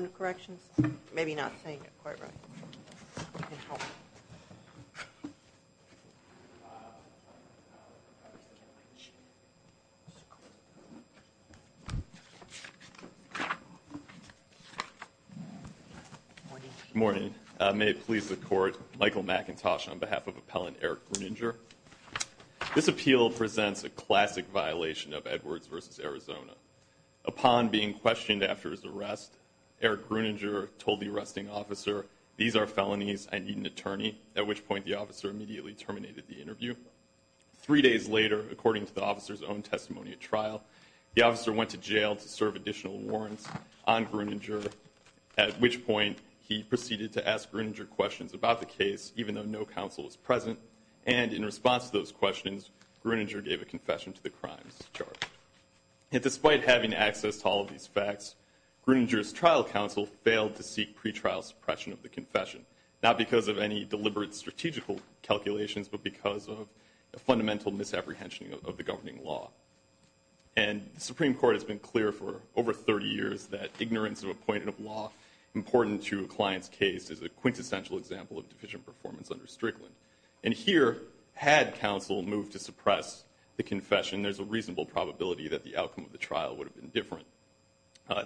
of Corrections, maybe not saying it quite right. Good morning. May it please the Court, Michael McIntosh on behalf of Appellant Eric Grueninger, this appeal presents a classic violation of Edwards v. Arizona. Upon being questioned after his arrest, Eric Grueninger told the arresting officer, these are felonies, I need an attorney, at which point the officer immediately terminated the interview. Three days later, according to the officer's own testimony at trial, the officer went to jail to serve additional warrants on Grueninger, at which point he proceeded to ask Grueninger questions about the case, even though no counsel was present, and in response to those questions, Grueninger gave a confession to the crimes charge. Yet despite having access to all of these facts, Grueninger's trial counsel failed to seek pretrial suppression of the confession, not because of any deliberate strategical calculations, but because of a fundamental misapprehension of the governing law. And the Supreme Court has been clear for over 30 years that ignorance of a point in a law important to a client's case is a quintessential example of deficient performance under Strickland. And here, had counsel moved to suppress the confession, there's a reasonable probability that the outcome of the trial would have been different.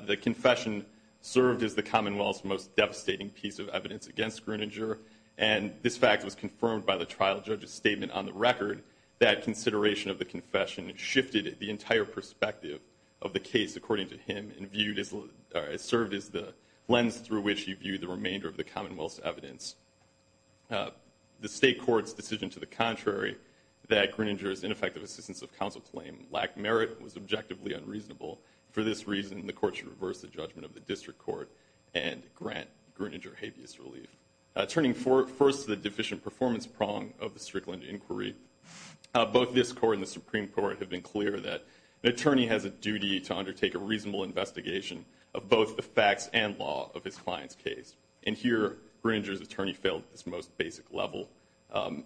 The confession served as the Commonwealth's most devastating piece of evidence against Grueninger, and this fact was confirmed by the trial judge's statement on the record that consideration of the confession shifted the entire perspective of the case, according to him, and served as the lens through which he viewed the remainder of the Commonwealth's evidence. The state court's decision to the contrary, that Grueninger's ineffective assistance of counsel claim lacked merit, was objectively unreasonable. For this reason, the court should reverse the judgment of the district court and grant Grueninger habeas relief. Turning first to the deficient performance prong of the Strickland inquiry, both this court and the Supreme Court have been clear that an attorney has a duty to undertake a reasonable investigation of both the facts and law of his client's case. And here, Grueninger's attorney failed at this most basic level.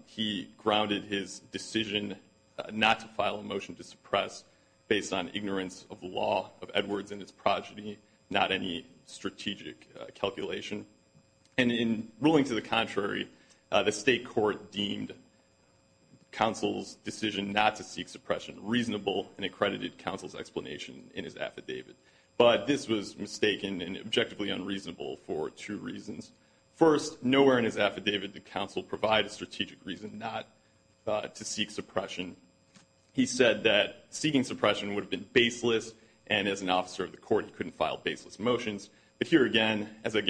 He grounded his decision not to file a motion to suppress based on ignorance of the law of Edwards and his progeny, not any strategic calculation. And in ruling to the contrary, the state court deemed counsel's decision not to seek suppression reasonable and accredited counsel's explanation in his affidavit. But this was mistaken and objectively unreasonable for two reasons. First, nowhere in his affidavit did counsel provide a strategic reason not to seek suppression. He said that seeking suppression would have been baseless, and as an officer of the court, he couldn't file baseless motions. But here again, as I'll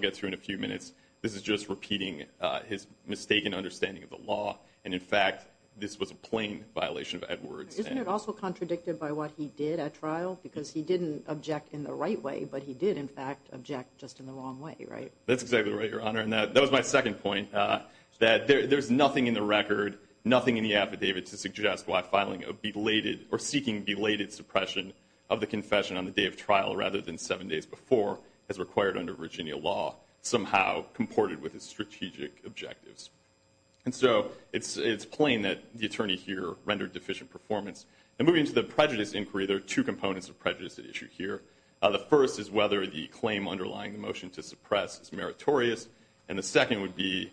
get through in a few minutes, this is just repeating his mistaken understanding of the law. And, in fact, this was a plain violation of Edwards. Isn't it also contradicted by what he did at trial? Because he didn't object in the right way, but he did, in fact, object just in the wrong way, right? That's exactly right, Your Honor. And that was my second point, that there's nothing in the record, nothing in the affidavit, to suggest why filing a belated or seeking belated suppression of the confession on the day of trial rather than seven days before is required under Virginia law, somehow comported with his strategic objectives. And so it's plain that the attorney here rendered deficient performance. And moving to the prejudice inquiry, there are two components of prejudice at issue here. The first is whether the claim underlying the motion to suppress is meritorious, and the second would be,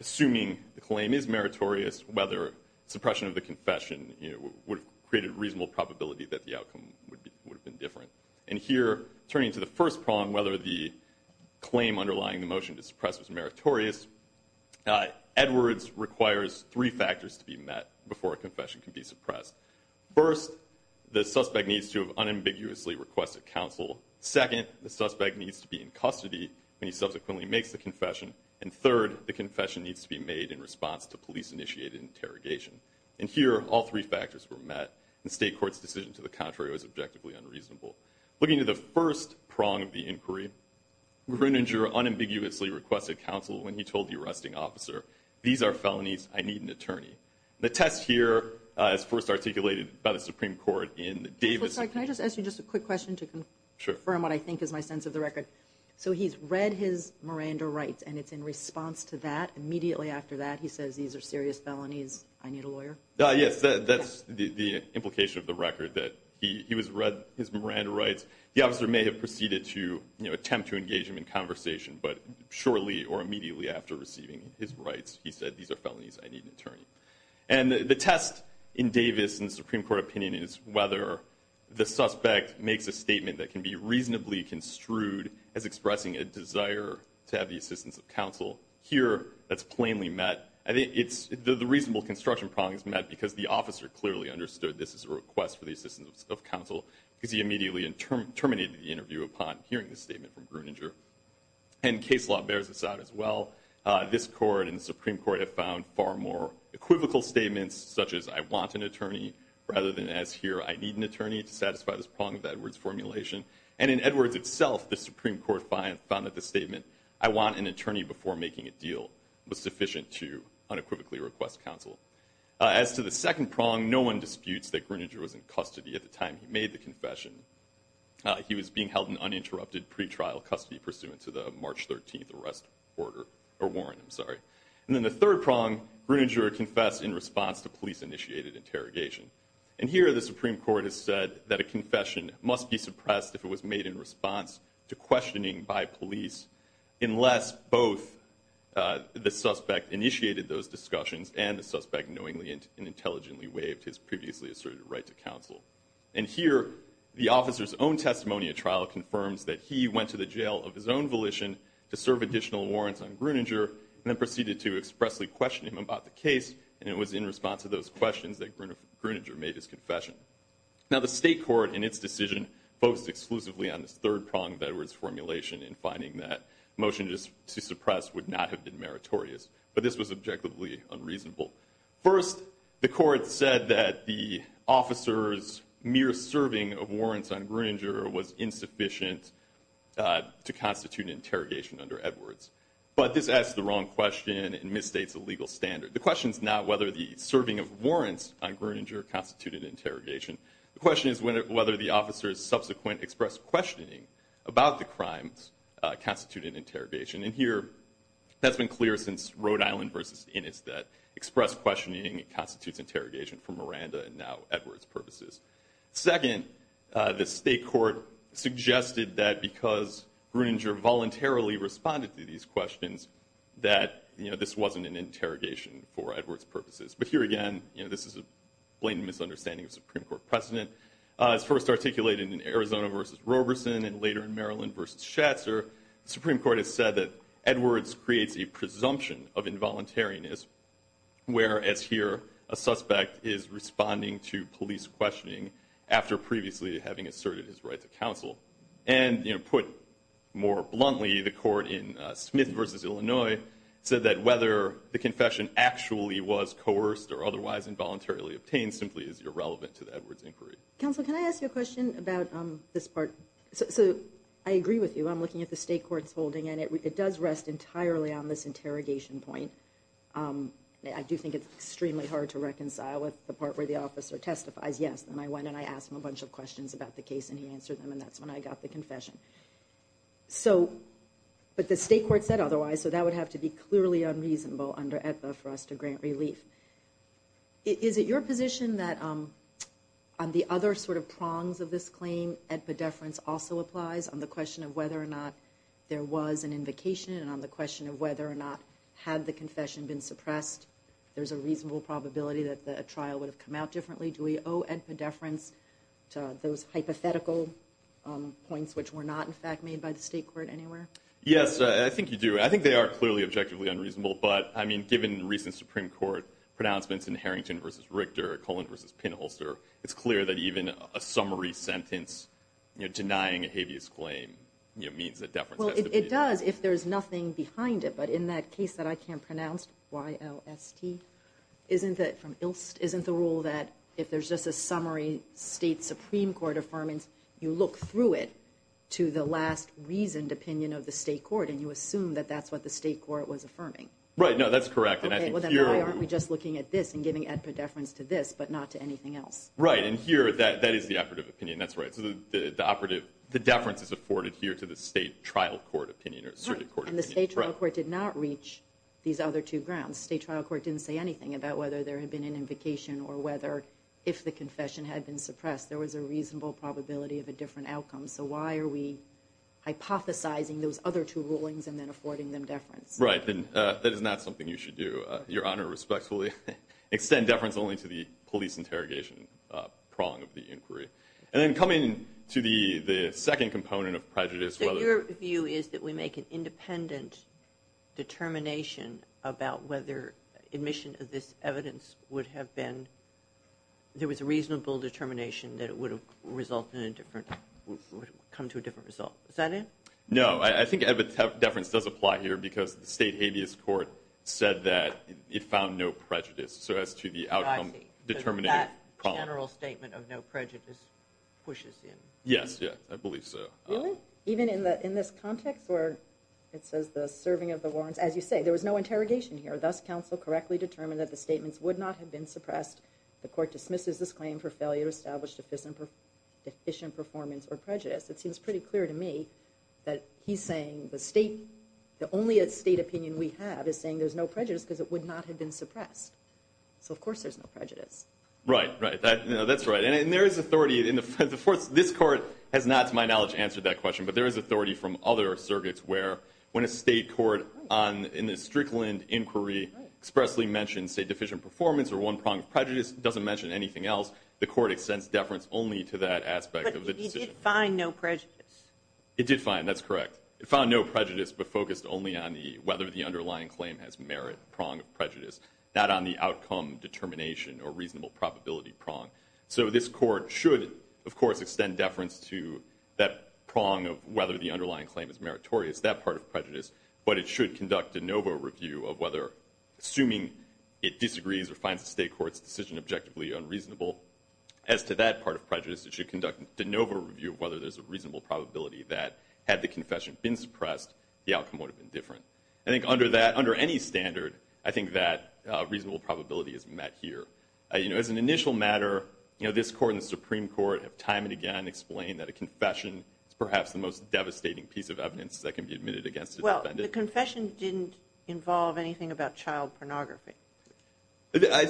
assuming the claim is meritorious, whether suppression of the confession would have created a reasonable probability that the outcome would have been different. And here, turning to the first problem, whether the claim underlying the motion to suppress was meritorious, Edwards requires three factors to be met before a confession can be suppressed. First, the suspect needs to have unambiguously requested counsel. Second, the suspect needs to be in custody when he subsequently makes the confession. And third, the confession needs to be made in response to police-initiated interrogation. And here, all three factors were met, and State Court's decision to the contrary was objectively unreasonable. Looking at the first prong of the inquiry, Roeninger unambiguously requested counsel when he told the arresting officer, these are felonies, I need an attorney. The test here is first articulated by the Supreme Court in Davis. Can I just ask you just a quick question to confirm what I think is my sense of the record? Sure. So he's read his Miranda rights, and it's in response to that. Immediately after that, he says, these are serious felonies, I need a lawyer? Yes, that's the implication of the record, that he has read his Miranda rights. The officer may have proceeded to attempt to engage him in conversation, but shortly or immediately after receiving his rights, he said, these are felonies, I need an attorney. And the test in Davis and the Supreme Court opinion is whether the suspect makes a statement that can be reasonably construed as expressing a desire to have the assistance of counsel. Here, that's plainly met. The reasonable construction problem is met because the officer clearly understood this is a request for the assistance of counsel because he immediately terminated the interview upon hearing the statement from Roeninger. And case law bears this out as well. This court and the Supreme Court have found far more equivocal statements, such as, I want an attorney, rather than, as here, I need an attorney, to satisfy this problem of Edwards' formulation. And in Edwards itself, the Supreme Court found that the statement, I want an attorney before making a deal, was sufficient to unequivocally request counsel. As to the second prong, no one disputes that Groeninger was in custody at the time he made the confession. He was being held in uninterrupted pretrial custody pursuant to the March 13 arrest warrant. And then the third prong, Groeninger confessed in response to police-initiated interrogation. And here, the Supreme Court has said that a confession must be suppressed if it was made in response to questioning by police, unless both the suspect initiated those discussions and the suspect knowingly and intelligently waived his previously asserted right to counsel. And here, the officer's own testimony at trial confirms that he went to the jail of his own volition to serve additional warrants on Groeninger and then proceeded to expressly question him about the case, and it was in response to those questions that Groeninger made his confession. Now, the state court in its decision focused exclusively on this third prong of Edwards' formulation in finding that a motion to suppress would not have been meritorious, but this was objectively unreasonable. First, the court said that the officer's mere serving of warrants on Groeninger was insufficient to constitute an interrogation under Edwards. But this asks the wrong question and misstates the legal standard. The question is not whether the serving of warrants on Groeninger constituted interrogation. The question is whether the officer's subsequent expressed questioning about the crimes constituted interrogation. And here, that's been clear since Rhode Island v. Innis, that expressed questioning constitutes interrogation for Miranda and now Edwards' purposes. Second, the state court suggested that because Groeninger voluntarily responded to these questions, that this wasn't an interrogation for Edwards' purposes. But here again, this is a blatant misunderstanding of Supreme Court precedent. As first articulated in Arizona v. Roberson and later in Maryland v. Schatzer, the Supreme Court has said that Edwards creates a presumption of involuntariness, whereas here a suspect is responding to police questioning after previously having asserted his right to counsel. And, you know, put more bluntly, the court in Smith v. Illinois said that whether the confession actually was coerced or otherwise involuntarily obtained simply is irrelevant to the Edwards inquiry. Counsel, can I ask you a question about this part? So I agree with you. I'm looking at the state court's holding, and it does rest entirely on this interrogation point. I do think it's extremely hard to reconcile with the part where the officer testifies yes. And I went and I asked him a bunch of questions about the case, and he answered them, and that's when I got the confession. But the state court said otherwise, so that would have to be clearly unreasonable under AEDPA for us to grant relief. Is it your position that on the other sort of prongs of this claim, AEDPA deference also applies? On the question of whether or not there was an invocation and on the question of whether or not had the confession been suppressed, there's a reasonable probability that the trial would have come out differently? Do we owe AEDPA deference to those hypothetical points which were not, in fact, made by the state court anywhere? Yes, I think you do. I think they are clearly objectively unreasonable. But, I mean, given recent Supreme Court pronouncements in Harrington v. Richter, Cullen v. Pinholster, it's clear that even a summary sentence denying a habeas claim means that deference has to be made. Well, it does if there's nothing behind it. But in that case that I can't pronounce, Y-O-S-T, isn't the rule that if there's just a summary state Supreme Court affirmance, you look through it to the last reasoned opinion of the state court and you assume that that's what the state court was affirming? Right, no, that's correct. Okay, well, then why aren't we just looking at this and giving AEDPA deference to this but not to anything else? Right, and here that is the operative opinion, that's right. So the operative, the deference is afforded here to the state trial court opinion or the circuit court opinion. And the state trial court did not reach these other two grounds. The state trial court didn't say anything about whether there had been an invocation or whether if the confession had been suppressed there was a reasonable probability of a different outcome. So why are we hypothesizing those other two rulings and then affording them deference? Right, that is not something you should do, Your Honor, respectfully. Extend deference only to the police interrogation prong of the inquiry. And then coming to the second component of prejudice. So your view is that we make an independent determination about whether admission of this evidence would have been, there was a reasonable determination that it would result in a different, come to a different result. Is that it? No, I think deference does apply here because the state habeas court said that it found no prejudice so as to the outcome determinative prong. So that general statement of no prejudice pushes in. Yes, yes, I believe so. Really? Even in this context where it says the serving of the warrants, as you say, there was no interrogation here. Thus, counsel correctly determined that the statements would not have been suppressed. The court dismisses this claim for failure to establish deficient performance or prejudice. It seems pretty clear to me that he's saying the only state opinion we have is saying there's no prejudice because it would not have been suppressed. So of course there's no prejudice. Right, right, that's right. This court has not, to my knowledge, answered that question, but there is authority from other circuits where when a state court in a Strickland inquiry expressly mentions, say, deficient performance or one prong of prejudice, it doesn't mention anything else. The court extends deference only to that aspect of the decision. But it did find no prejudice. It did find, that's correct. It found no prejudice but focused only on whether the underlying claim has merit prong of prejudice, not on the outcome determination or reasonable probability prong. So this court should, of course, extend deference to that prong of whether the underlying claim is meritorious, that part of prejudice, but it should conduct de novo review of whether, assuming it disagrees or finds the state court's decision objectively unreasonable, as to that part of prejudice, it should conduct de novo review of whether there's a reasonable probability that had the confession been suppressed, the outcome would have been different. I think under that, under any standard, I think that reasonable probability is met here. You know, as an initial matter, you know, this court and the Supreme Court have time and again explained that a confession is perhaps the most devastating piece of evidence that can be admitted against a defendant. Well, the confession didn't involve anything about child pornography. So I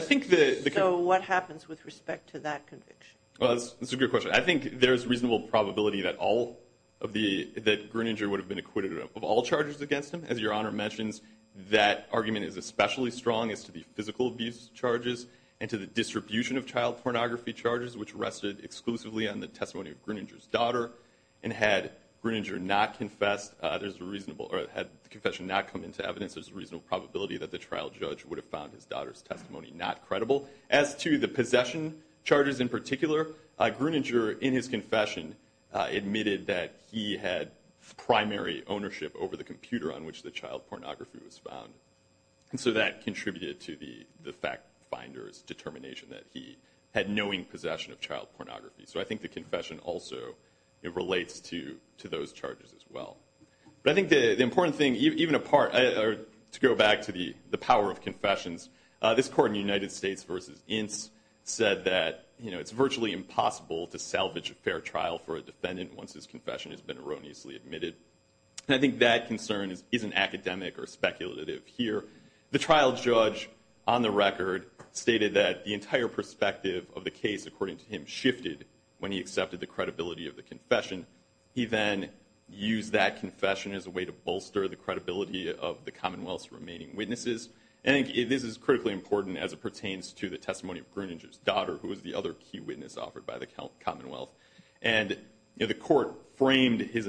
think the – So what happens with respect to that conviction? Well, that's a good question. I think there's reasonable probability that all of the – that Gruninger would have been acquitted of all charges against him. As Your Honor mentions, that argument is especially strong as to the physical abuse charges and to the distribution of child pornography charges, which rested exclusively on the testimony of Gruninger's daughter. And had Gruninger not confessed, there's a reasonable – or had the confession not come into evidence, there's a reasonable probability that the trial judge would have found his daughter's testimony not credible. As to the possession charges in particular, Gruninger, in his confession, admitted that he had primary ownership over the computer on which the child pornography was found. And so that contributed to the fact finder's determination that he had knowing possession of child pornography. So I think the confession also relates to those charges as well. But I think the important thing, even a part – or to go back to the power of confessions, this court in United States v. Ince said that, you know, it's virtually impossible to salvage a fair trial for a defendant once his confession has been erroneously admitted. And I think that concern isn't academic or speculative here. The trial judge, on the record, stated that the entire perspective of the case, according to him, shifted when he accepted the credibility of the confession. He then used that confession as a way to bolster the credibility of the Commonwealth's remaining witnesses. And I think this is critically important as it pertains to the testimony of Gruninger's daughter, who was the other key witness offered by the Commonwealth. And the court framed its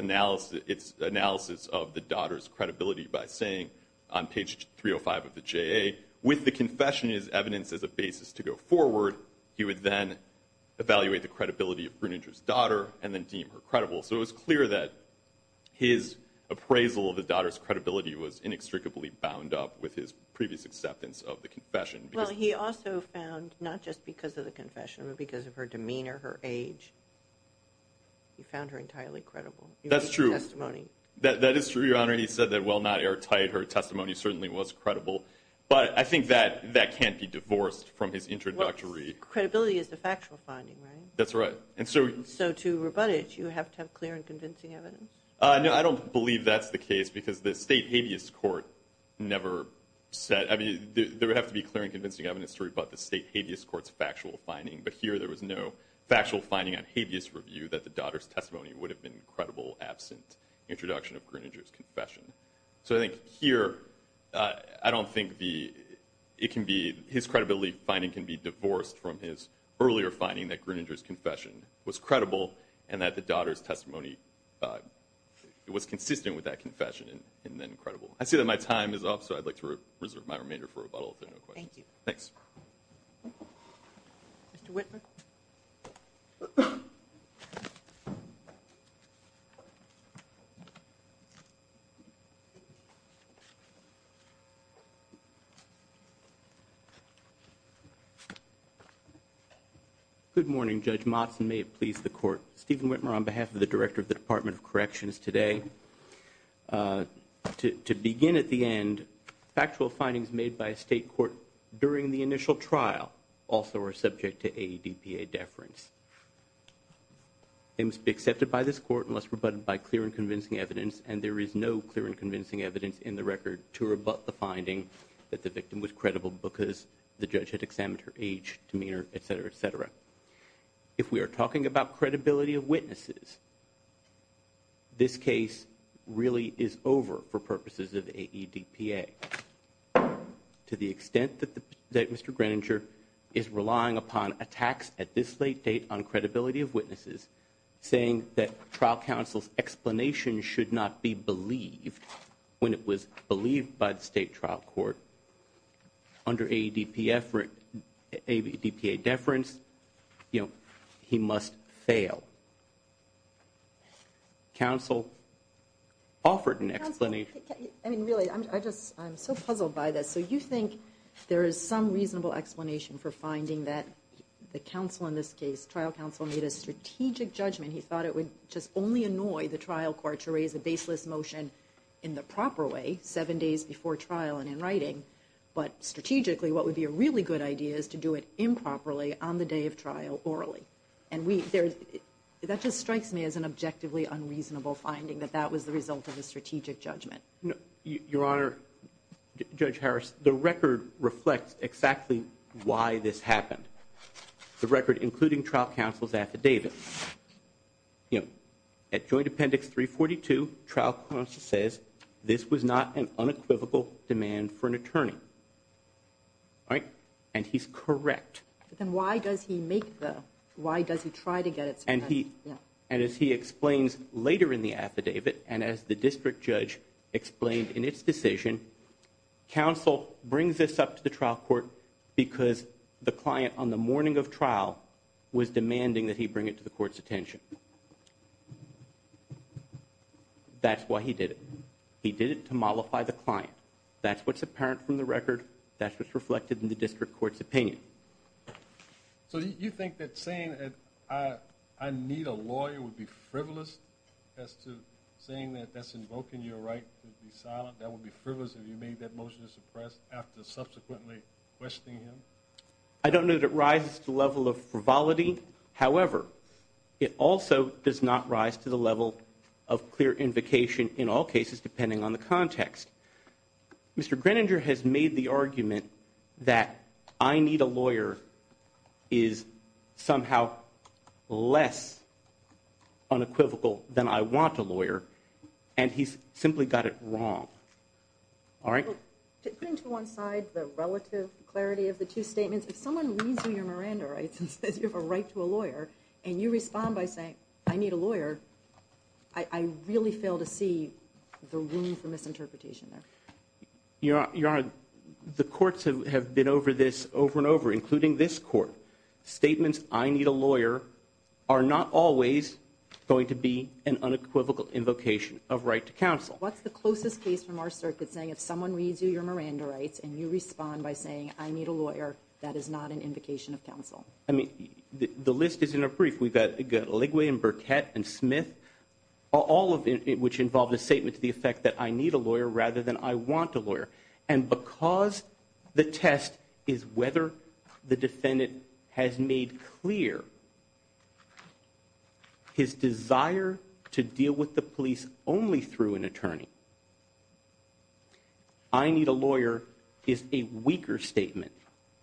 analysis of the daughter's credibility by saying, on page 305 of the JA, with the confession as evidence as a basis to go forward, he would then evaluate the credibility of Gruninger's daughter and then deem her credible. So it was clear that his appraisal of the daughter's credibility was inextricably bound up with his previous acceptance of the confession. Well, he also found, not just because of the confession, but because of her demeanor, her age, he found her entirely credible. That's true. That is true, Your Honor. He said that, well, not airtight. Her testimony certainly was credible. But I think that that can't be divorced from his introductory – Well, credibility is the factual finding, right? That's right. So to rebut it, you have to have clear and convincing evidence? No, I don't believe that's the case because the state habeas court never said – I mean, there would have to be clear and convincing evidence to rebut the state habeas court's factual finding. But here, there was no factual finding on habeas review that the daughter's testimony would have been credible absent introduction of Gruninger's confession. So I think here, I don't think it can be – I think it can be rebutted on his earlier finding that Gruninger's confession was credible and that the daughter's testimony was consistent with that confession and then credible. I see that my time is up, so I'd like to reserve my remainder for rebuttal, if there are no questions. Thank you. Thanks. Mr. Whitman? Good morning, Judge Motzen. May it please the Court. Stephen Whitman on behalf of the Director of the Department of Corrections today. To begin at the end, factual findings made by a state court during the initial trial also are subject to AEDPA deference. They must be accepted by this Court unless rebutted by clear and convincing evidence, and there is no clear and convincing evidence in the record to rebut the finding that the victim was credible because the judge had examined her age, demeanor, et cetera, et cetera. If we are talking about credibility of witnesses, this case really is over for purposes of AEDPA. To the extent that Mr. Gruninger is relying upon attacks at this late date on credibility of witnesses, saying that trial counsel's explanation should not be believed when it was believed by the state trial court under AEDPA deference, he must fail. Counsel offered an explanation. Counsel, I mean, really, I'm so puzzled by this. So you think there is some reasonable explanation for finding that the counsel in this case, trial counsel made a strategic judgment. He thought it would just only annoy the trial court to raise a baseless motion in the proper way, seven days before trial and in writing, but strategically what would be a really good idea is to do it improperly on the day of trial orally. And that just strikes me as an objectively unreasonable finding that that was the result of the strategic judgment. Your Honor, Judge Harris, the record reflects exactly why this happened. The record including trial counsel's affidavit. At joint appendix 342, trial counsel says this was not an unequivocal demand for an attorney. And he's correct. Then why does he make the, why does he try to get it? And as he explains later in the affidavit and as the district judge explained in its decision, counsel brings this up to the trial court because the client on the morning of trial was demanding that he bring it to the court's attention. That's why he did it. He did it to mollify the client. That's what's apparent from the record. That's what's reflected in the district court's opinion. So you think that saying that I need a lawyer would be frivolous as to saying that that's invoking your right to be silent? That would be frivolous if you made that motion to suppress after subsequently questioning him? I don't know that it rises to the level of frivolity. However, it also does not rise to the level of clear invocation in all cases depending on the context. Mr. Greninger has made the argument that I need a lawyer is somehow less unequivocal than I want a lawyer, and he's simply got it wrong. To put into one side the relative clarity of the two statements, if someone reads your Miranda rights and says you have a right to a lawyer, and you respond by saying I need a lawyer, I really fail to see the room for misinterpretation there. Your Honor, the courts have been over this over and over, including this court. Statements I need a lawyer are not always going to be an unequivocal invocation of right to counsel. What's the closest case from our circuit saying if someone reads you your Miranda rights and you respond by saying I need a lawyer, that is not an invocation of counsel? I mean, the list is in a brief. We've got Ligwe and Burkett and Smith, all of which involved a statement to the effect that I need a lawyer rather than I want a lawyer. And because the test is whether the defendant has made clear his desire to deal with the police only through an attorney, I need a lawyer is a weaker statement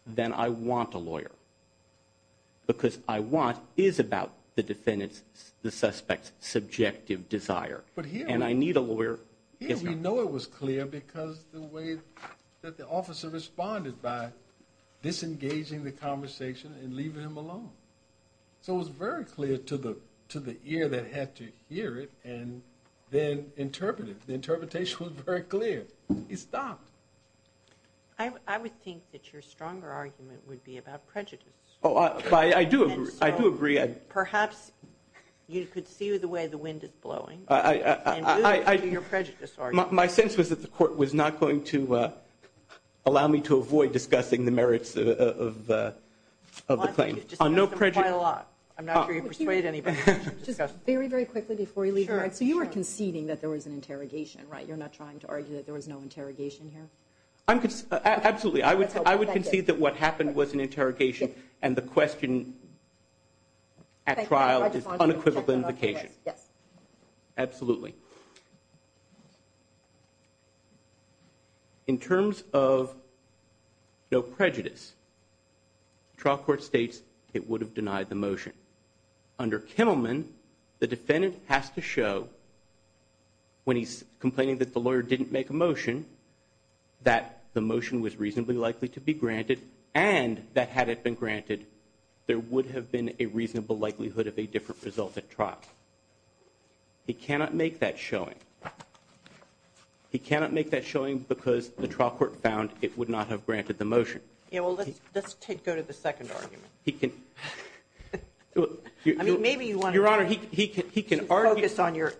than I want a lawyer, because I want is about the defendant's, the suspect's subjective desire. Here we know it was clear because the way that the officer responded by disengaging the conversation and leaving him alone. So it was very clear to the ear that had to hear it and then interpret it. The interpretation was very clear. He stopped. I would think that your stronger argument would be about prejudice. I do agree. Perhaps you could see the way the wind is blowing. Your prejudice. My sense was that the court was not going to allow me to avoid discussing the merits of the claim on no prejudice. I'm not sure you persuade anybody. Very, very quickly before you leave. All right. So you were conceding that there was an interrogation, right? You're not trying to argue that there was no interrogation here. Absolutely. I would I would concede that what happened was an interrogation. And the question at trial is unequivocal implication. Yes, absolutely. In terms of. No prejudice. Trial court states it would have denied the motion under Kimmelman. The defendant has to show. When he's complaining that the lawyer didn't make a motion. That the motion was reasonably likely to be granted. And that had it been granted. There would have been a reasonable likelihood of a different result at trial. He cannot make that showing. He cannot make that showing because the trial court found it would not have granted the motion. Let's go to the second argument. He can. I mean, maybe you want to. Your Honor, he can. Focus on your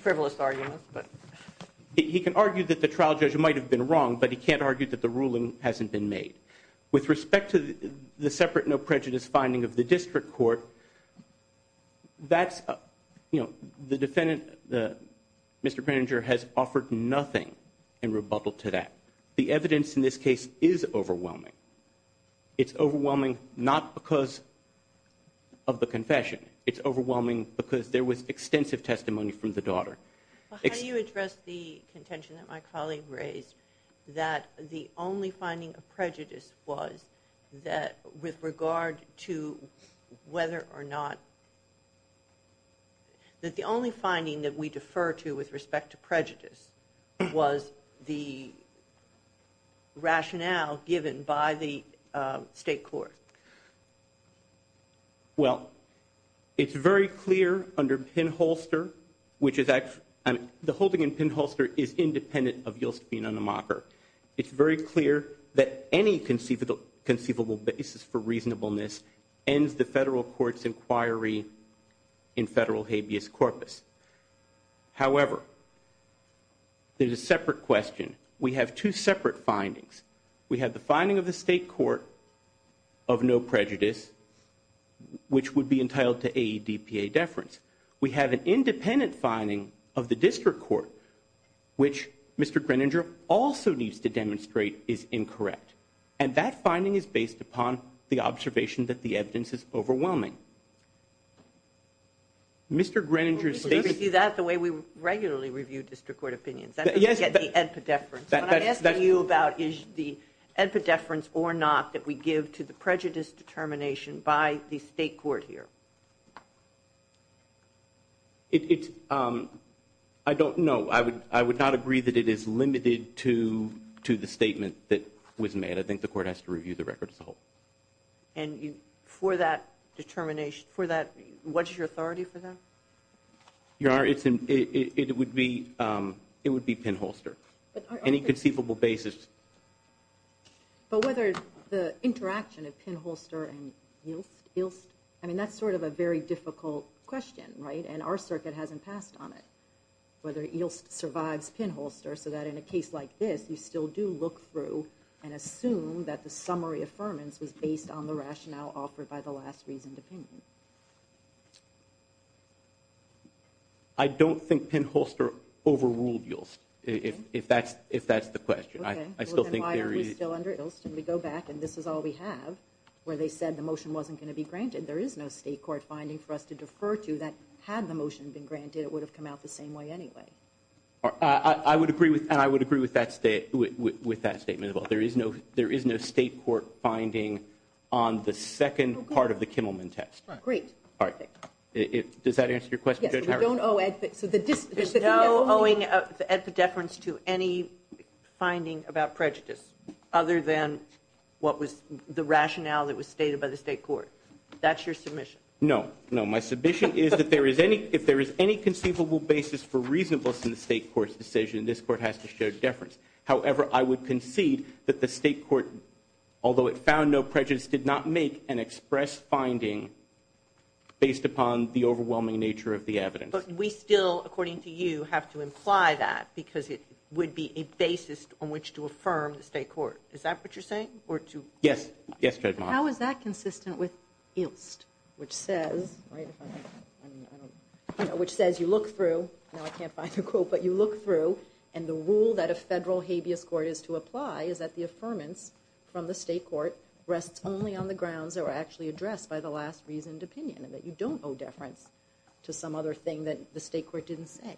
frivolous argument. But he can argue that the trial judge might have been wrong, but he can't argue that the ruling hasn't been made. With respect to the separate no prejudice finding of the district court. That's the defendant. Mr. Penninger has offered nothing in rebuttal to that. The evidence in this case is overwhelming. It's overwhelming not because of the confession. It's overwhelming because there was extensive testimony from the daughter. How do you address the contention that my colleague raised? That the only finding of prejudice was that with regard to whether or not. That the only finding that we defer to with respect to prejudice was the rationale given by the state court. Well, it's very clear under Penn-Holster, which is the holding in Penn-Holster is independent of Yost being a mocker. It's very clear that any conceivable basis for reasonableness ends the federal court's inquiry in federal habeas corpus. However, there's a separate question. We have two separate findings. We have the finding of the state court of no prejudice, which would be entitled to AEDPA deference. We have an independent finding of the district court, which Mr. Greninger also needs to demonstrate is incorrect. And that finding is based upon the observation that the evidence is overwhelming. Mr. Greninger's statement. We see that the way we regularly review district court opinions. That's the AEDPA deference. What I'm asking you about is the AEDPA deference or not that we give to the prejudice determination by the state court here. I don't know. I would not agree that it is limited to the statement that was made. I think the court has to review the record as a whole. And for that determination, for that, what's your authority for that? It would be it would be pinholster. Any conceivable basis. But whether the interaction of pinholster and I mean, that's sort of a very difficult question, right? And our circuit hasn't passed on it, whether it survives pinholster so that in a case like this, you still do look through and assume that the summary deferments was based on the rationale offered by the last reasoned opinion. I don't think pinholster overruled yields. If that's if that's the question, I still think we go back and this is all we have where they said the motion wasn't going to be granted. There is no state court finding for us to defer to that. Had the motion been granted, it would have come out the same way anyway. I would agree with and I would agree with that state with that statement. First of all, there is no there is no state court finding on the second part of the Kimmelman test. Great. All right. Does that answer your question? I don't know. So the just knowing at the deference to any finding about prejudice other than what was the rationale that was stated by the state court. That's your submission. No, no. My submission is that there is any if there is any conceivable basis for reasonableness in the state court's decision, this court has to show deference. However, I would concede that the state court, although it found no prejudice, did not make an express finding based upon the overwhelming nature of the evidence. But we still, according to you, have to imply that because it would be a basis on which to affirm the state court. Is that what you're saying? Yes. Yes. How is that consistent with Ilst, which says, right, which says you look through. Now, I can't find a quote, but you look through and the rule that a federal habeas court is to apply is that the affirmance from the state court rests only on the grounds that were actually addressed by the last reasoned opinion and that you don't owe deference to some other thing that the state court didn't say.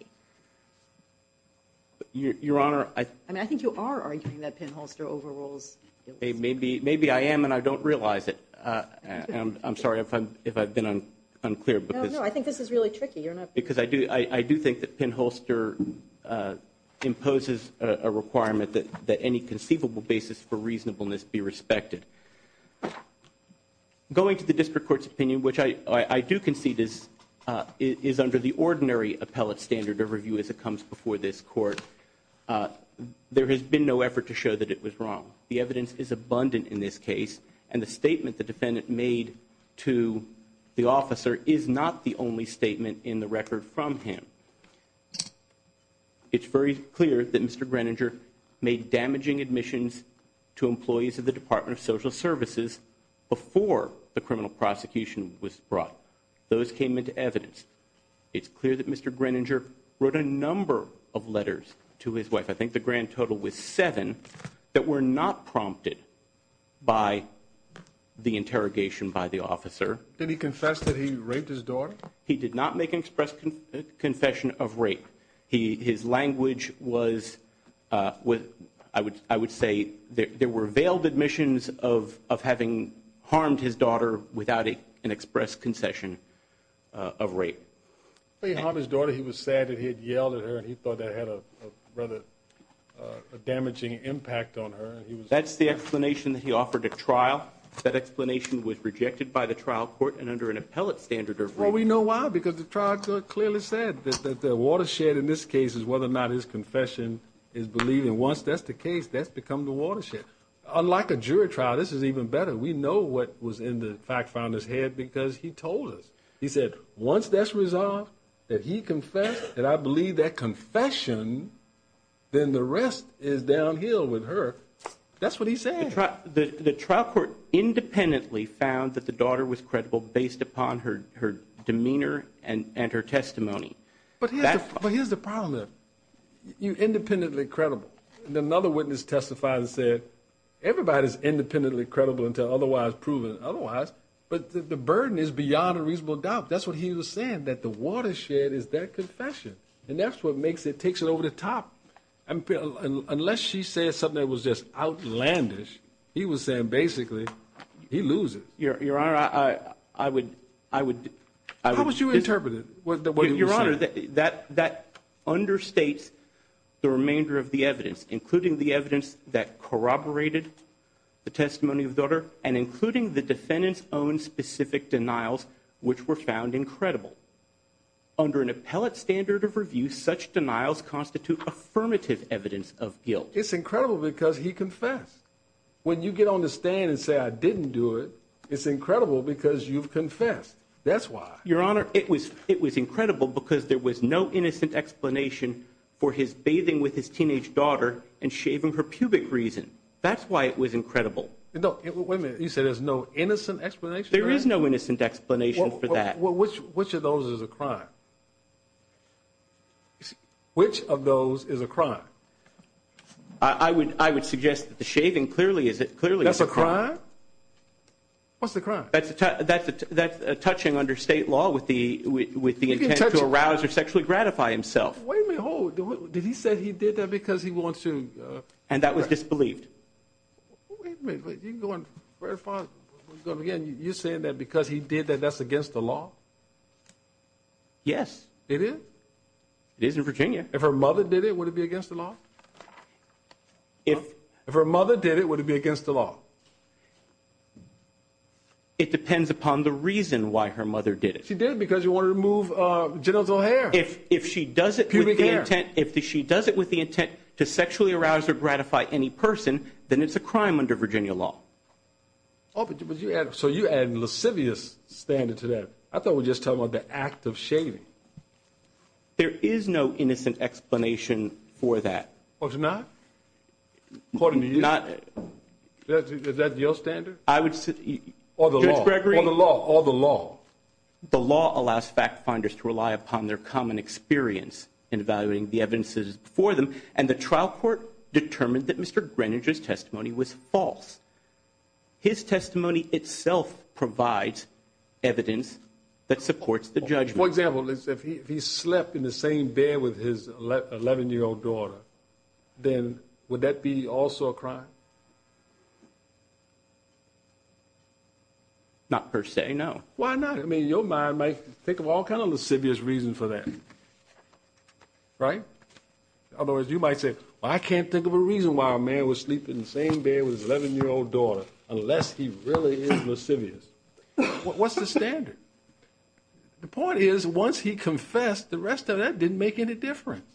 Your Honor. I mean, I think you are arguing that pinholster overrules. Maybe maybe I am and I don't realize it. And I'm sorry if I'm if I've been unclear, but I think this is really tricky because I do. I do think that pinholster imposes a requirement that that any conceivable basis for reasonableness be respected. Going to the district court's opinion, which I do concede is is under the ordinary appellate standard of review as it comes before this court. There has been no effort to show that it was wrong. The evidence is abundant in this case, and the statement the defendant made to the officer is not the only statement in the record from him. It's very clear that Mr. Greininger made damaging admissions to employees of the Department of Social Services before the criminal prosecution was brought. Those came into evidence. It's clear that Mr. Greininger wrote a number of letters to his wife. I think the grand total was seven that were not prompted by the interrogation by the officer. Did he confess that he raped his daughter? He did not make an express confession of rape. His language was, I would say, there were veiled admissions of having harmed his daughter without an express concession of rape. He harmed his daughter. He was sad that he had yelled at her, and he thought that had a rather damaging impact on her. That's the explanation that he offered at trial. That explanation was rejected by the trial court and under an appellate standard of review. Well, we know why, because the trial court clearly said that the watershed in this case is whether or not his confession is believed, and once that's the case, that's become the watershed. Unlike a jury trial, this is even better. We know what was in the fact finder's head because he told us. He said, once that's resolved, that he confessed, that I believe that confession, then the rest is downhill with her. That's what he said. The trial court independently found that the daughter was credible based upon her demeanor and her testimony. But here's the problem. You're independently credible, and another witness testified and said, everybody's independently credible until otherwise proven otherwise, but the burden is beyond a reasonable doubt. That's what he was saying, that the watershed is their confession, and that's what makes it, takes it over the top. Unless she said something that was just outlandish, he was saying, basically, he loses. Your Honor, I would. How would you interpret it? Your Honor, that understates the remainder of the evidence, including the evidence that corroborated the testimony of the daughter and including the defendant's own specific denials, which were found incredible. Under an appellate standard of review, such denials constitute affirmative evidence of guilt. It's incredible because he confessed. When you get on the stand and say, I didn't do it, it's incredible because you've confessed. That's why. Your Honor, it was incredible because there was no innocent explanation for his bathing with his teenage daughter and shaving her pubic reason. That's why it was incredible. No, wait a minute. You said there's no innocent explanation? There is no innocent explanation for that. Well, which of those is a crime? Which of those is a crime? I would suggest that the shaving clearly is a crime. That's a crime? What's the crime? That's a touching under state law with the intent to arouse or sexually gratify himself. Wait a minute. Did he say he did that because he wants to? And that was disbelieved. Wait a minute. You're going very far. You're saying that because he did that that's against the law? Yes. It is? It is in Virginia. If her mother did it, would it be against the law? If her mother did it, would it be against the law? It depends upon the reason why her mother did it. She did it because she wanted to remove genital hair. If she does it with the intent to sexually arouse or gratify any person, then it's a crime under Virginia law. So you're adding a lascivious standard to that. I thought we were just talking about the act of shaving. There is no innocent explanation for that. There's not? According to you? Is that your standard? Judge Gregory. Or the law. Or the law. The law allows fact finders to rely upon their common experience in evaluating the evidences before them, and the trial court determined that Mr. Greenidge's testimony was false. His testimony itself provides evidence that supports the judgment. For example, if he slept in the same bed with his 11-year-old daughter, then would that be also a crime? Not per se, no. Why not? I mean, your mind might think of all kinds of lascivious reasons for that, right? In other words, you might say, well, I can't think of a reason why a man would sleep in the same bed with his 11-year-old daughter unless he really is lascivious. What's the standard? The point is, once he confessed, the rest of that didn't make any difference.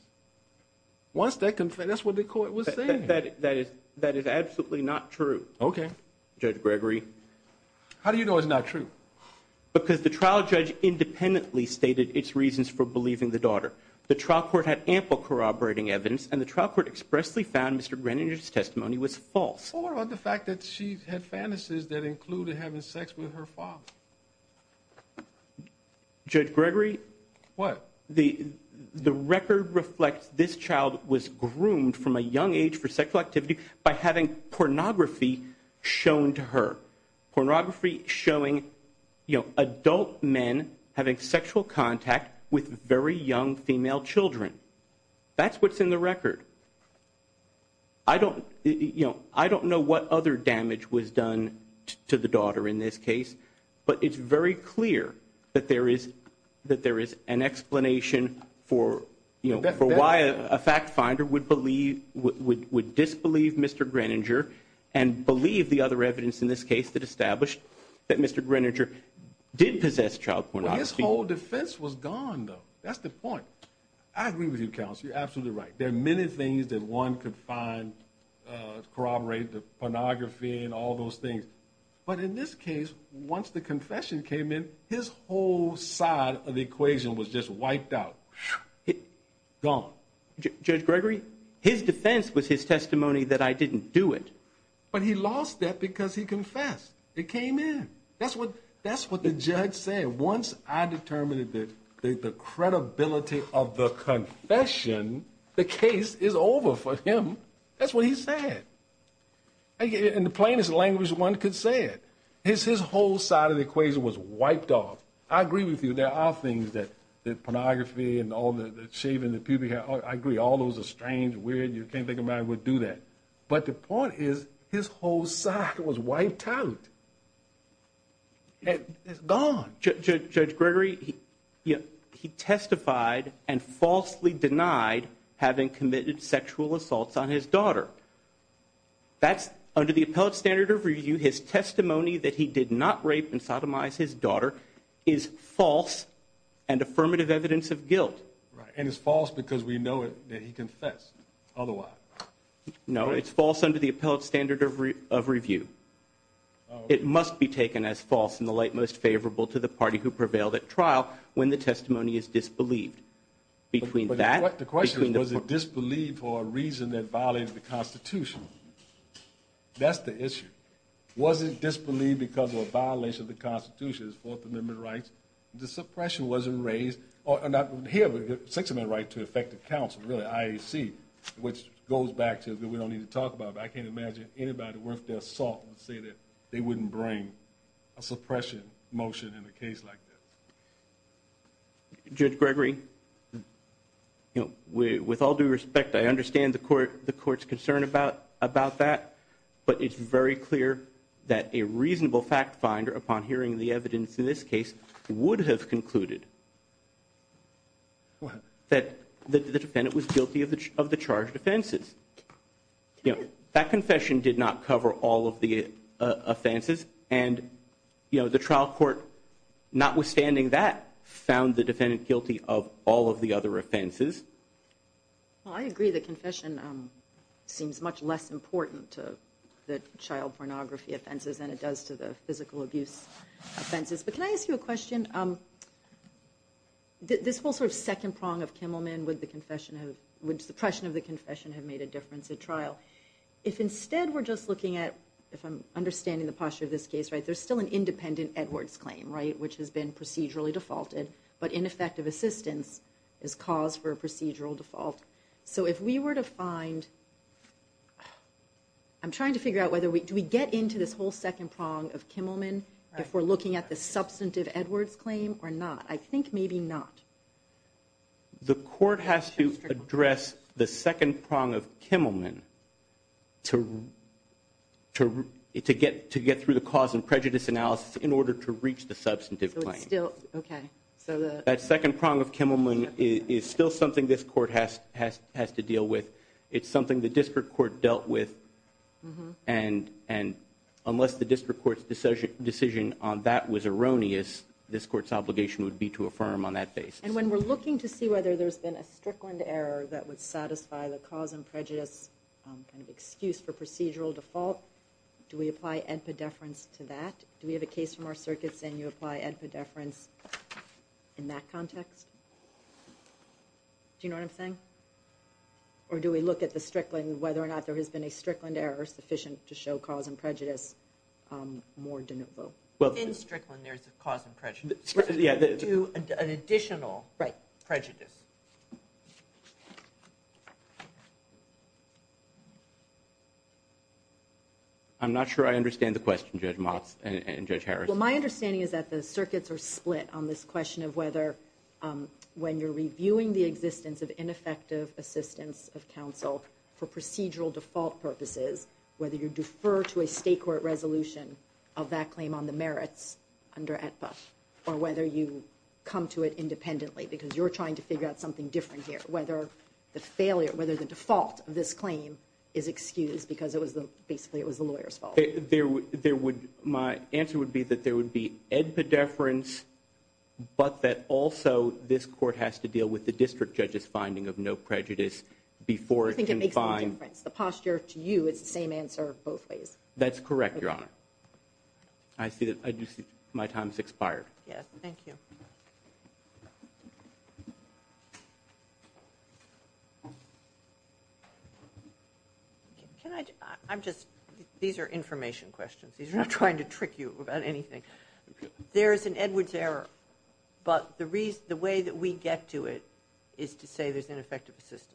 Once they confessed, that's what the court was saying. That is absolutely not true. Okay. Judge Gregory. How do you know it's not true? Because the trial judge independently stated its reasons for believing the daughter. The trial court had ample corroborating evidence, and the trial court expressly found Mr. Greenidge's testimony was false. Well, what about the fact that she had fantasies that included having sex with her father? Judge Gregory. What? The record reflects this child was groomed from a young age for sexual activity by having pornography shown to her, pornography showing adult men having sexual contact with very young female children. That's what's in the record. I don't know what other damage was done to the daughter in this case, but it's very clear that there is an explanation for why a fact finder would disbelieve Mr. Greninger and believe the other evidence in this case that established that Mr. Greninger did possess child pornography. Well, his whole defense was gone, though. That's the point. I agree with you, counsel. You're absolutely right. There are many things that one could find corroborate pornography and all those things. But in this case, once the confession came in, his whole side of the equation was just wiped out, gone. Judge Gregory, his defense was his testimony that I didn't do it. But he lost that because he confessed. It came in. That's what the judge said. Once I determined the credibility of the confession, the case is over for him. That's what he said. In the plainest language one could say it. His whole side of the equation was wiped off. I agree with you. There are things that pornography and all the shaming that people have. I agree. All those are strange, weird. You can't think of a man who would do that. But the point is his whole side was wiped out. It's gone. Judge Gregory, he testified and falsely denied having committed sexual assaults on his daughter. That's under the appellate standard of review. His testimony that he did not rape and sodomize his daughter is false and affirmative evidence of guilt. Right. And it's false because we know that he confessed otherwise. No, it's false under the appellate standard of review. It must be taken as false in the light most favorable to the party who prevailed at trial when the testimony is disbelieved. The question was, was it disbelieved for a reason that violated the Constitution? That's the issue. Was it disbelieved because of a violation of the Constitution, Fourth Amendment rights? The suppression wasn't raised. Here we have a Sixth Amendment right to effective counsel, really, IAC, which goes back to we don't need to talk about. But I can't imagine anybody worth their salt would say that they wouldn't bring a suppression motion in a case like this. Judge Gregory, with all due respect, I understand the court's concern about that. But it's very clear that a reasonable fact finder, upon hearing the evidence in this case, would have concluded that the defendant was guilty of the charged offenses. That confession did not cover all of the offenses. And the trial court, notwithstanding that, found the defendant guilty of all of the other offenses. Well, I agree the confession seems much less important to the child pornography offenses than it does to the physical abuse offenses. But can I ask you a question? This whole sort of second prong of Kimmelman, would the suppression of the confession have made a difference at trial? If instead we're just looking at, if I'm understanding the posture of this case, there's still an independent Edwards claim, which has been procedurally defaulted. But ineffective assistance is cause for a procedural default. So if we were to find, I'm trying to figure out, do we get into this whole second prong of Kimmelman if we're looking at the substantive Edwards claim or not? I think maybe not. The court has to address the second prong of Kimmelman to get through the cause and prejudice analysis in order to reach the substantive claim. That second prong of Kimmelman is still something this court has to deal with. It's something the district court dealt with. And unless the district court's decision on that was erroneous, this court's obligation would be to affirm on that basis. And when we're looking to see whether there's been a strickland error that would satisfy the cause and prejudice kind of excuse for procedural default, do we apply edpa deference to that? Do we have a case from our circuit saying you apply edpa deference in that context? Do you know what I'm saying? Or do we look at the strickland, whether or not there has been a strickland error sufficient to show cause and prejudice more de novo? Within strickland there's a cause and prejudice. To an additional prejudice. I'm not sure I understand the question, Judge Motz and Judge Harris. Well, my understanding is that the circuits are split on this question of whether when you're reviewing the existence of ineffective assistance of counsel for procedural default purposes, whether you defer to a state court resolution of that claim on the merits under edpa, or whether you come to it independently because you're trying to figure out something different here, whether the default of this claim is excused because basically it was the lawyer's fault. My answer would be that there would be edpa deference, but that also this court has to deal with the district judge's finding of no prejudice before it can find... The posture to you is the same answer both ways. That's correct, Your Honor. I do see my time has expired. Yes, thank you. Can I just, I'm just, these are information questions. These are not trying to trick you about anything. There is an Edwards error, but the way that we get to it is to say there's ineffective assistance.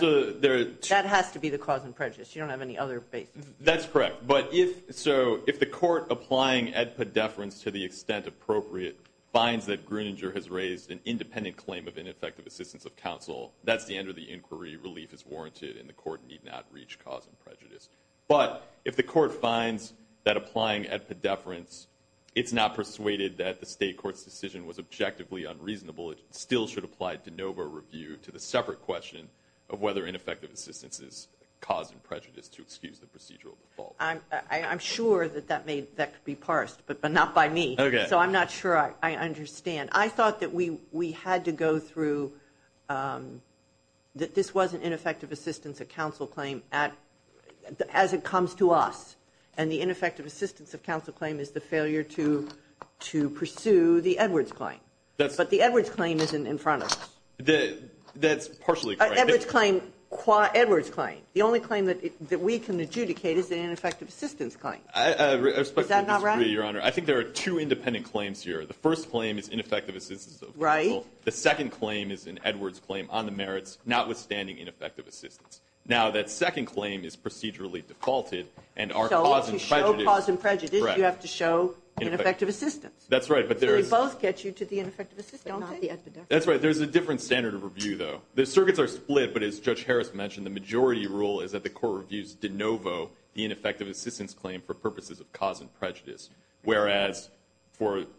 That has to be the cause and prejudice. You don't have any other basis. That's correct. But if so, if the court applying edpa deference to the extent appropriate, finds that Gruninger has raised an independent claim of ineffective assistance of counsel, that's the end of the inquiry. Relief is warranted, and the court need not reach cause and prejudice. But if the court finds that applying edpa deference, it's not persuaded that the state court's decision was objectively unreasonable, it still should apply de novo review to the separate question of whether ineffective assistance is cause and prejudice to excuse the procedural default. I'm sure that that could be parsed, but not by me. So I'm not sure I understand. I thought that we had to go through, that this wasn't ineffective assistance of counsel claim as it comes to us. And the ineffective assistance of counsel claim is the failure to pursue the Edwards claim. But the Edwards claim isn't in front of us. That's partially correct. Edwards claim. Edwards claim. The only claim that we can adjudicate is the ineffective assistance claim. I respectfully disagree, Your Honor. Is that not right? I think there are two independent claims here. The first claim is ineffective assistance of counsel. Right. The second claim is an Edwards claim on the merits, notwithstanding ineffective assistance. Now, that second claim is procedurally defaulted and our cause and prejudice. So to show cause and prejudice, you have to show ineffective assistance. That's right. So they both get you to the ineffective assistance, don't they? That's right. There's a different standard of review, though. The circuits are split, but as Judge Harris mentioned, the majority rule is that the court reviews de novo the ineffective assistance claim for purposes of cause and prejudice, whereas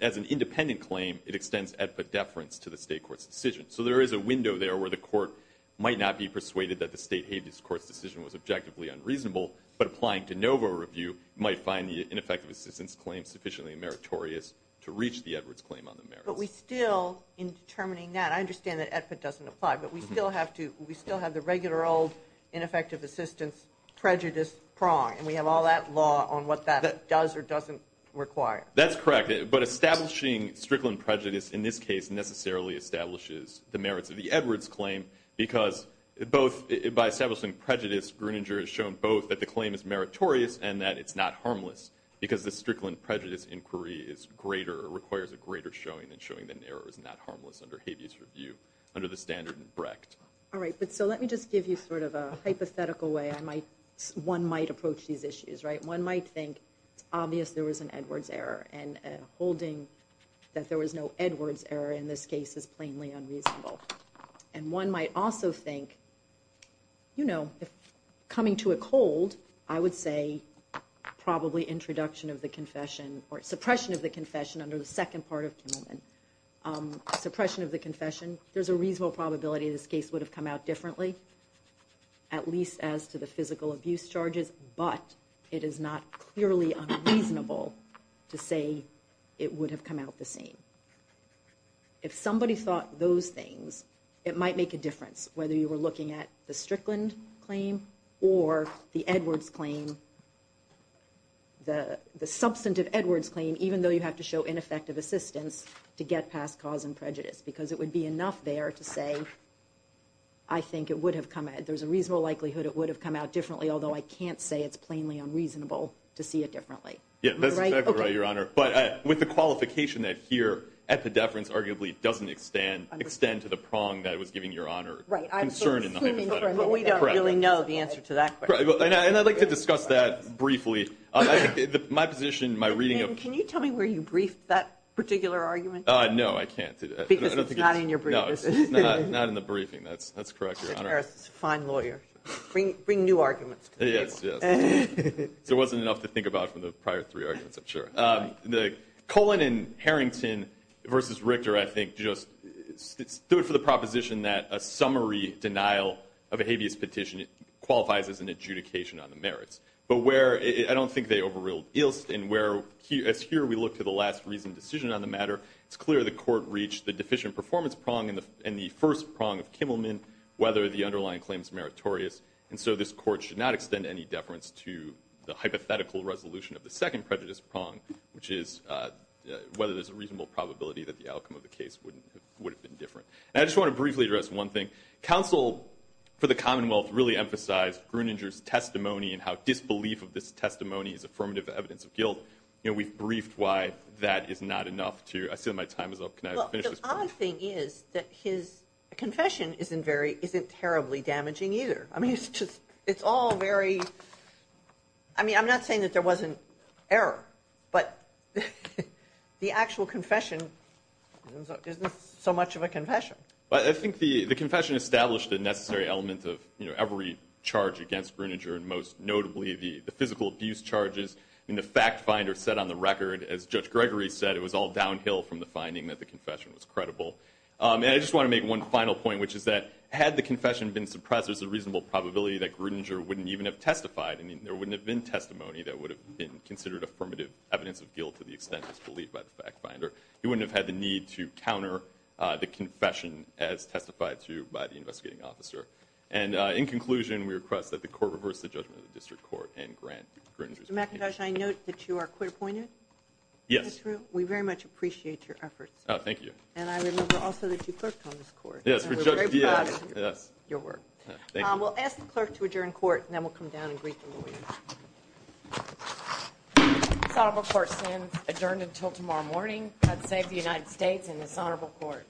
as an independent claim, it extends at the deference to the state court's decision. So there is a window there where the court might not be persuaded that the state habeas court's decision was objectively unreasonable, but applying de novo review might find the ineffective assistance claim sufficiently meritorious to reach the Edwards claim on the merits. But we still, in determining that, I understand that it doesn't apply, but we still have the regular old ineffective assistance prejudice prong, and we have all that law on what that does or doesn't require. That's correct. But establishing strickland prejudice in this case necessarily establishes the merits of the Edwards claim, because by establishing prejudice, Gruninger has shown both that the claim is meritorious and that it's not harmless, because the strickland prejudice inquiry requires a greater showing than showing that an error is not harmless under habeas review, under the standard in Brecht. All right. So let me just give you sort of a hypothetical way one might approach these issues. One might think it's obvious there was an Edwards error, and holding that there was no Edwards error in this case is plainly unreasonable. And one might also think, you know, coming to a cold, I would say probably introduction of the confession or suppression of the confession under the second part of Kimmelman. Suppression of the confession, there's a reasonable probability this case would have come out differently, at least as to the physical abuse charges, but it is not clearly unreasonable to say it would have come out the same. If somebody thought those things, it might make a difference, whether you were looking at the strickland claim or the Edwards claim, the substantive Edwards claim, even though you have to show ineffective assistance to get past cause and prejudice, because it would be enough there to say, I think it would have come out, there's a reasonable likelihood it would have come out differently, although I can't say it's plainly unreasonable to see it differently. Yeah, that's exactly right, Your Honor. But with the qualification that here at the deference arguably doesn't extend to the prong that was given, Your Honor, concern in the hypothetical. But we don't really know the answer to that question. And I'd like to discuss that briefly. My position, my reading of – Can you tell me where you briefed that particular argument? No, I can't. Because it's not in your briefing. No, it's not in the briefing. That's correct, Your Honor. Mr. Harris is a fine lawyer. Bring new arguments to the table. Yes, yes. There wasn't enough to think about from the prior three arguments, I'm sure. The Cullen and Harrington v. Richter, I think, just stood for the proposition that a summary denial of a habeas petition qualifies as an adjudication on the merits. But where – I don't think they overruled Ilst. And where, as here we look to the last reasoned decision on the matter, it's clear the Court reached the deficient performance prong in the first prong of Kimmelman whether the underlying claim is meritorious. And so this Court should not extend any deference to the hypothetical resolution of the second prejudice prong, which is whether there's a reasonable probability that the outcome of the case would have been different. And I just want to briefly address one thing. Counsel for the Commonwealth really emphasized Gruninger's testimony and how disbelief of this testimony is affirmative evidence of guilt. We've briefed why that is not enough to – I see that my time is up. Can I finish this brief? The odd thing is that his confession isn't terribly damaging either. I mean, it's just – it's all very – I mean, I'm not saying that there wasn't error, but the actual confession isn't so much of a confession. I think the confession established the necessary element of every charge against Gruninger, and most notably the physical abuse charges. I mean, the fact finder said on the record, as Judge Gregory said, it was all downhill from the finding that the confession was credible. And I just want to make one final point, which is that had the confession been suppressed, there's a reasonable probability that Gruninger wouldn't even have testified. I mean, there wouldn't have been testimony that would have been considered affirmative evidence of guilt to the extent disbelieved by the fact finder. He wouldn't have had the need to counter the confession as testified to by the investigating officer. And in conclusion, we request that the Court reverse the judgment of the District Court and grant Gruninger's opinion. Mr. McIntosh, I note that you are quit appointed? Yes. That's true. We very much appreciate your efforts. Thank you. And I remember also that you clerked on this Court. Yes. We're very proud of your work. Thank you. We'll ask the Clerk to adjourn Court, and then we'll come down and greet the lawyers. This Honorable Court stands adjourned until tomorrow morning. God save the United States and this Honorable Court.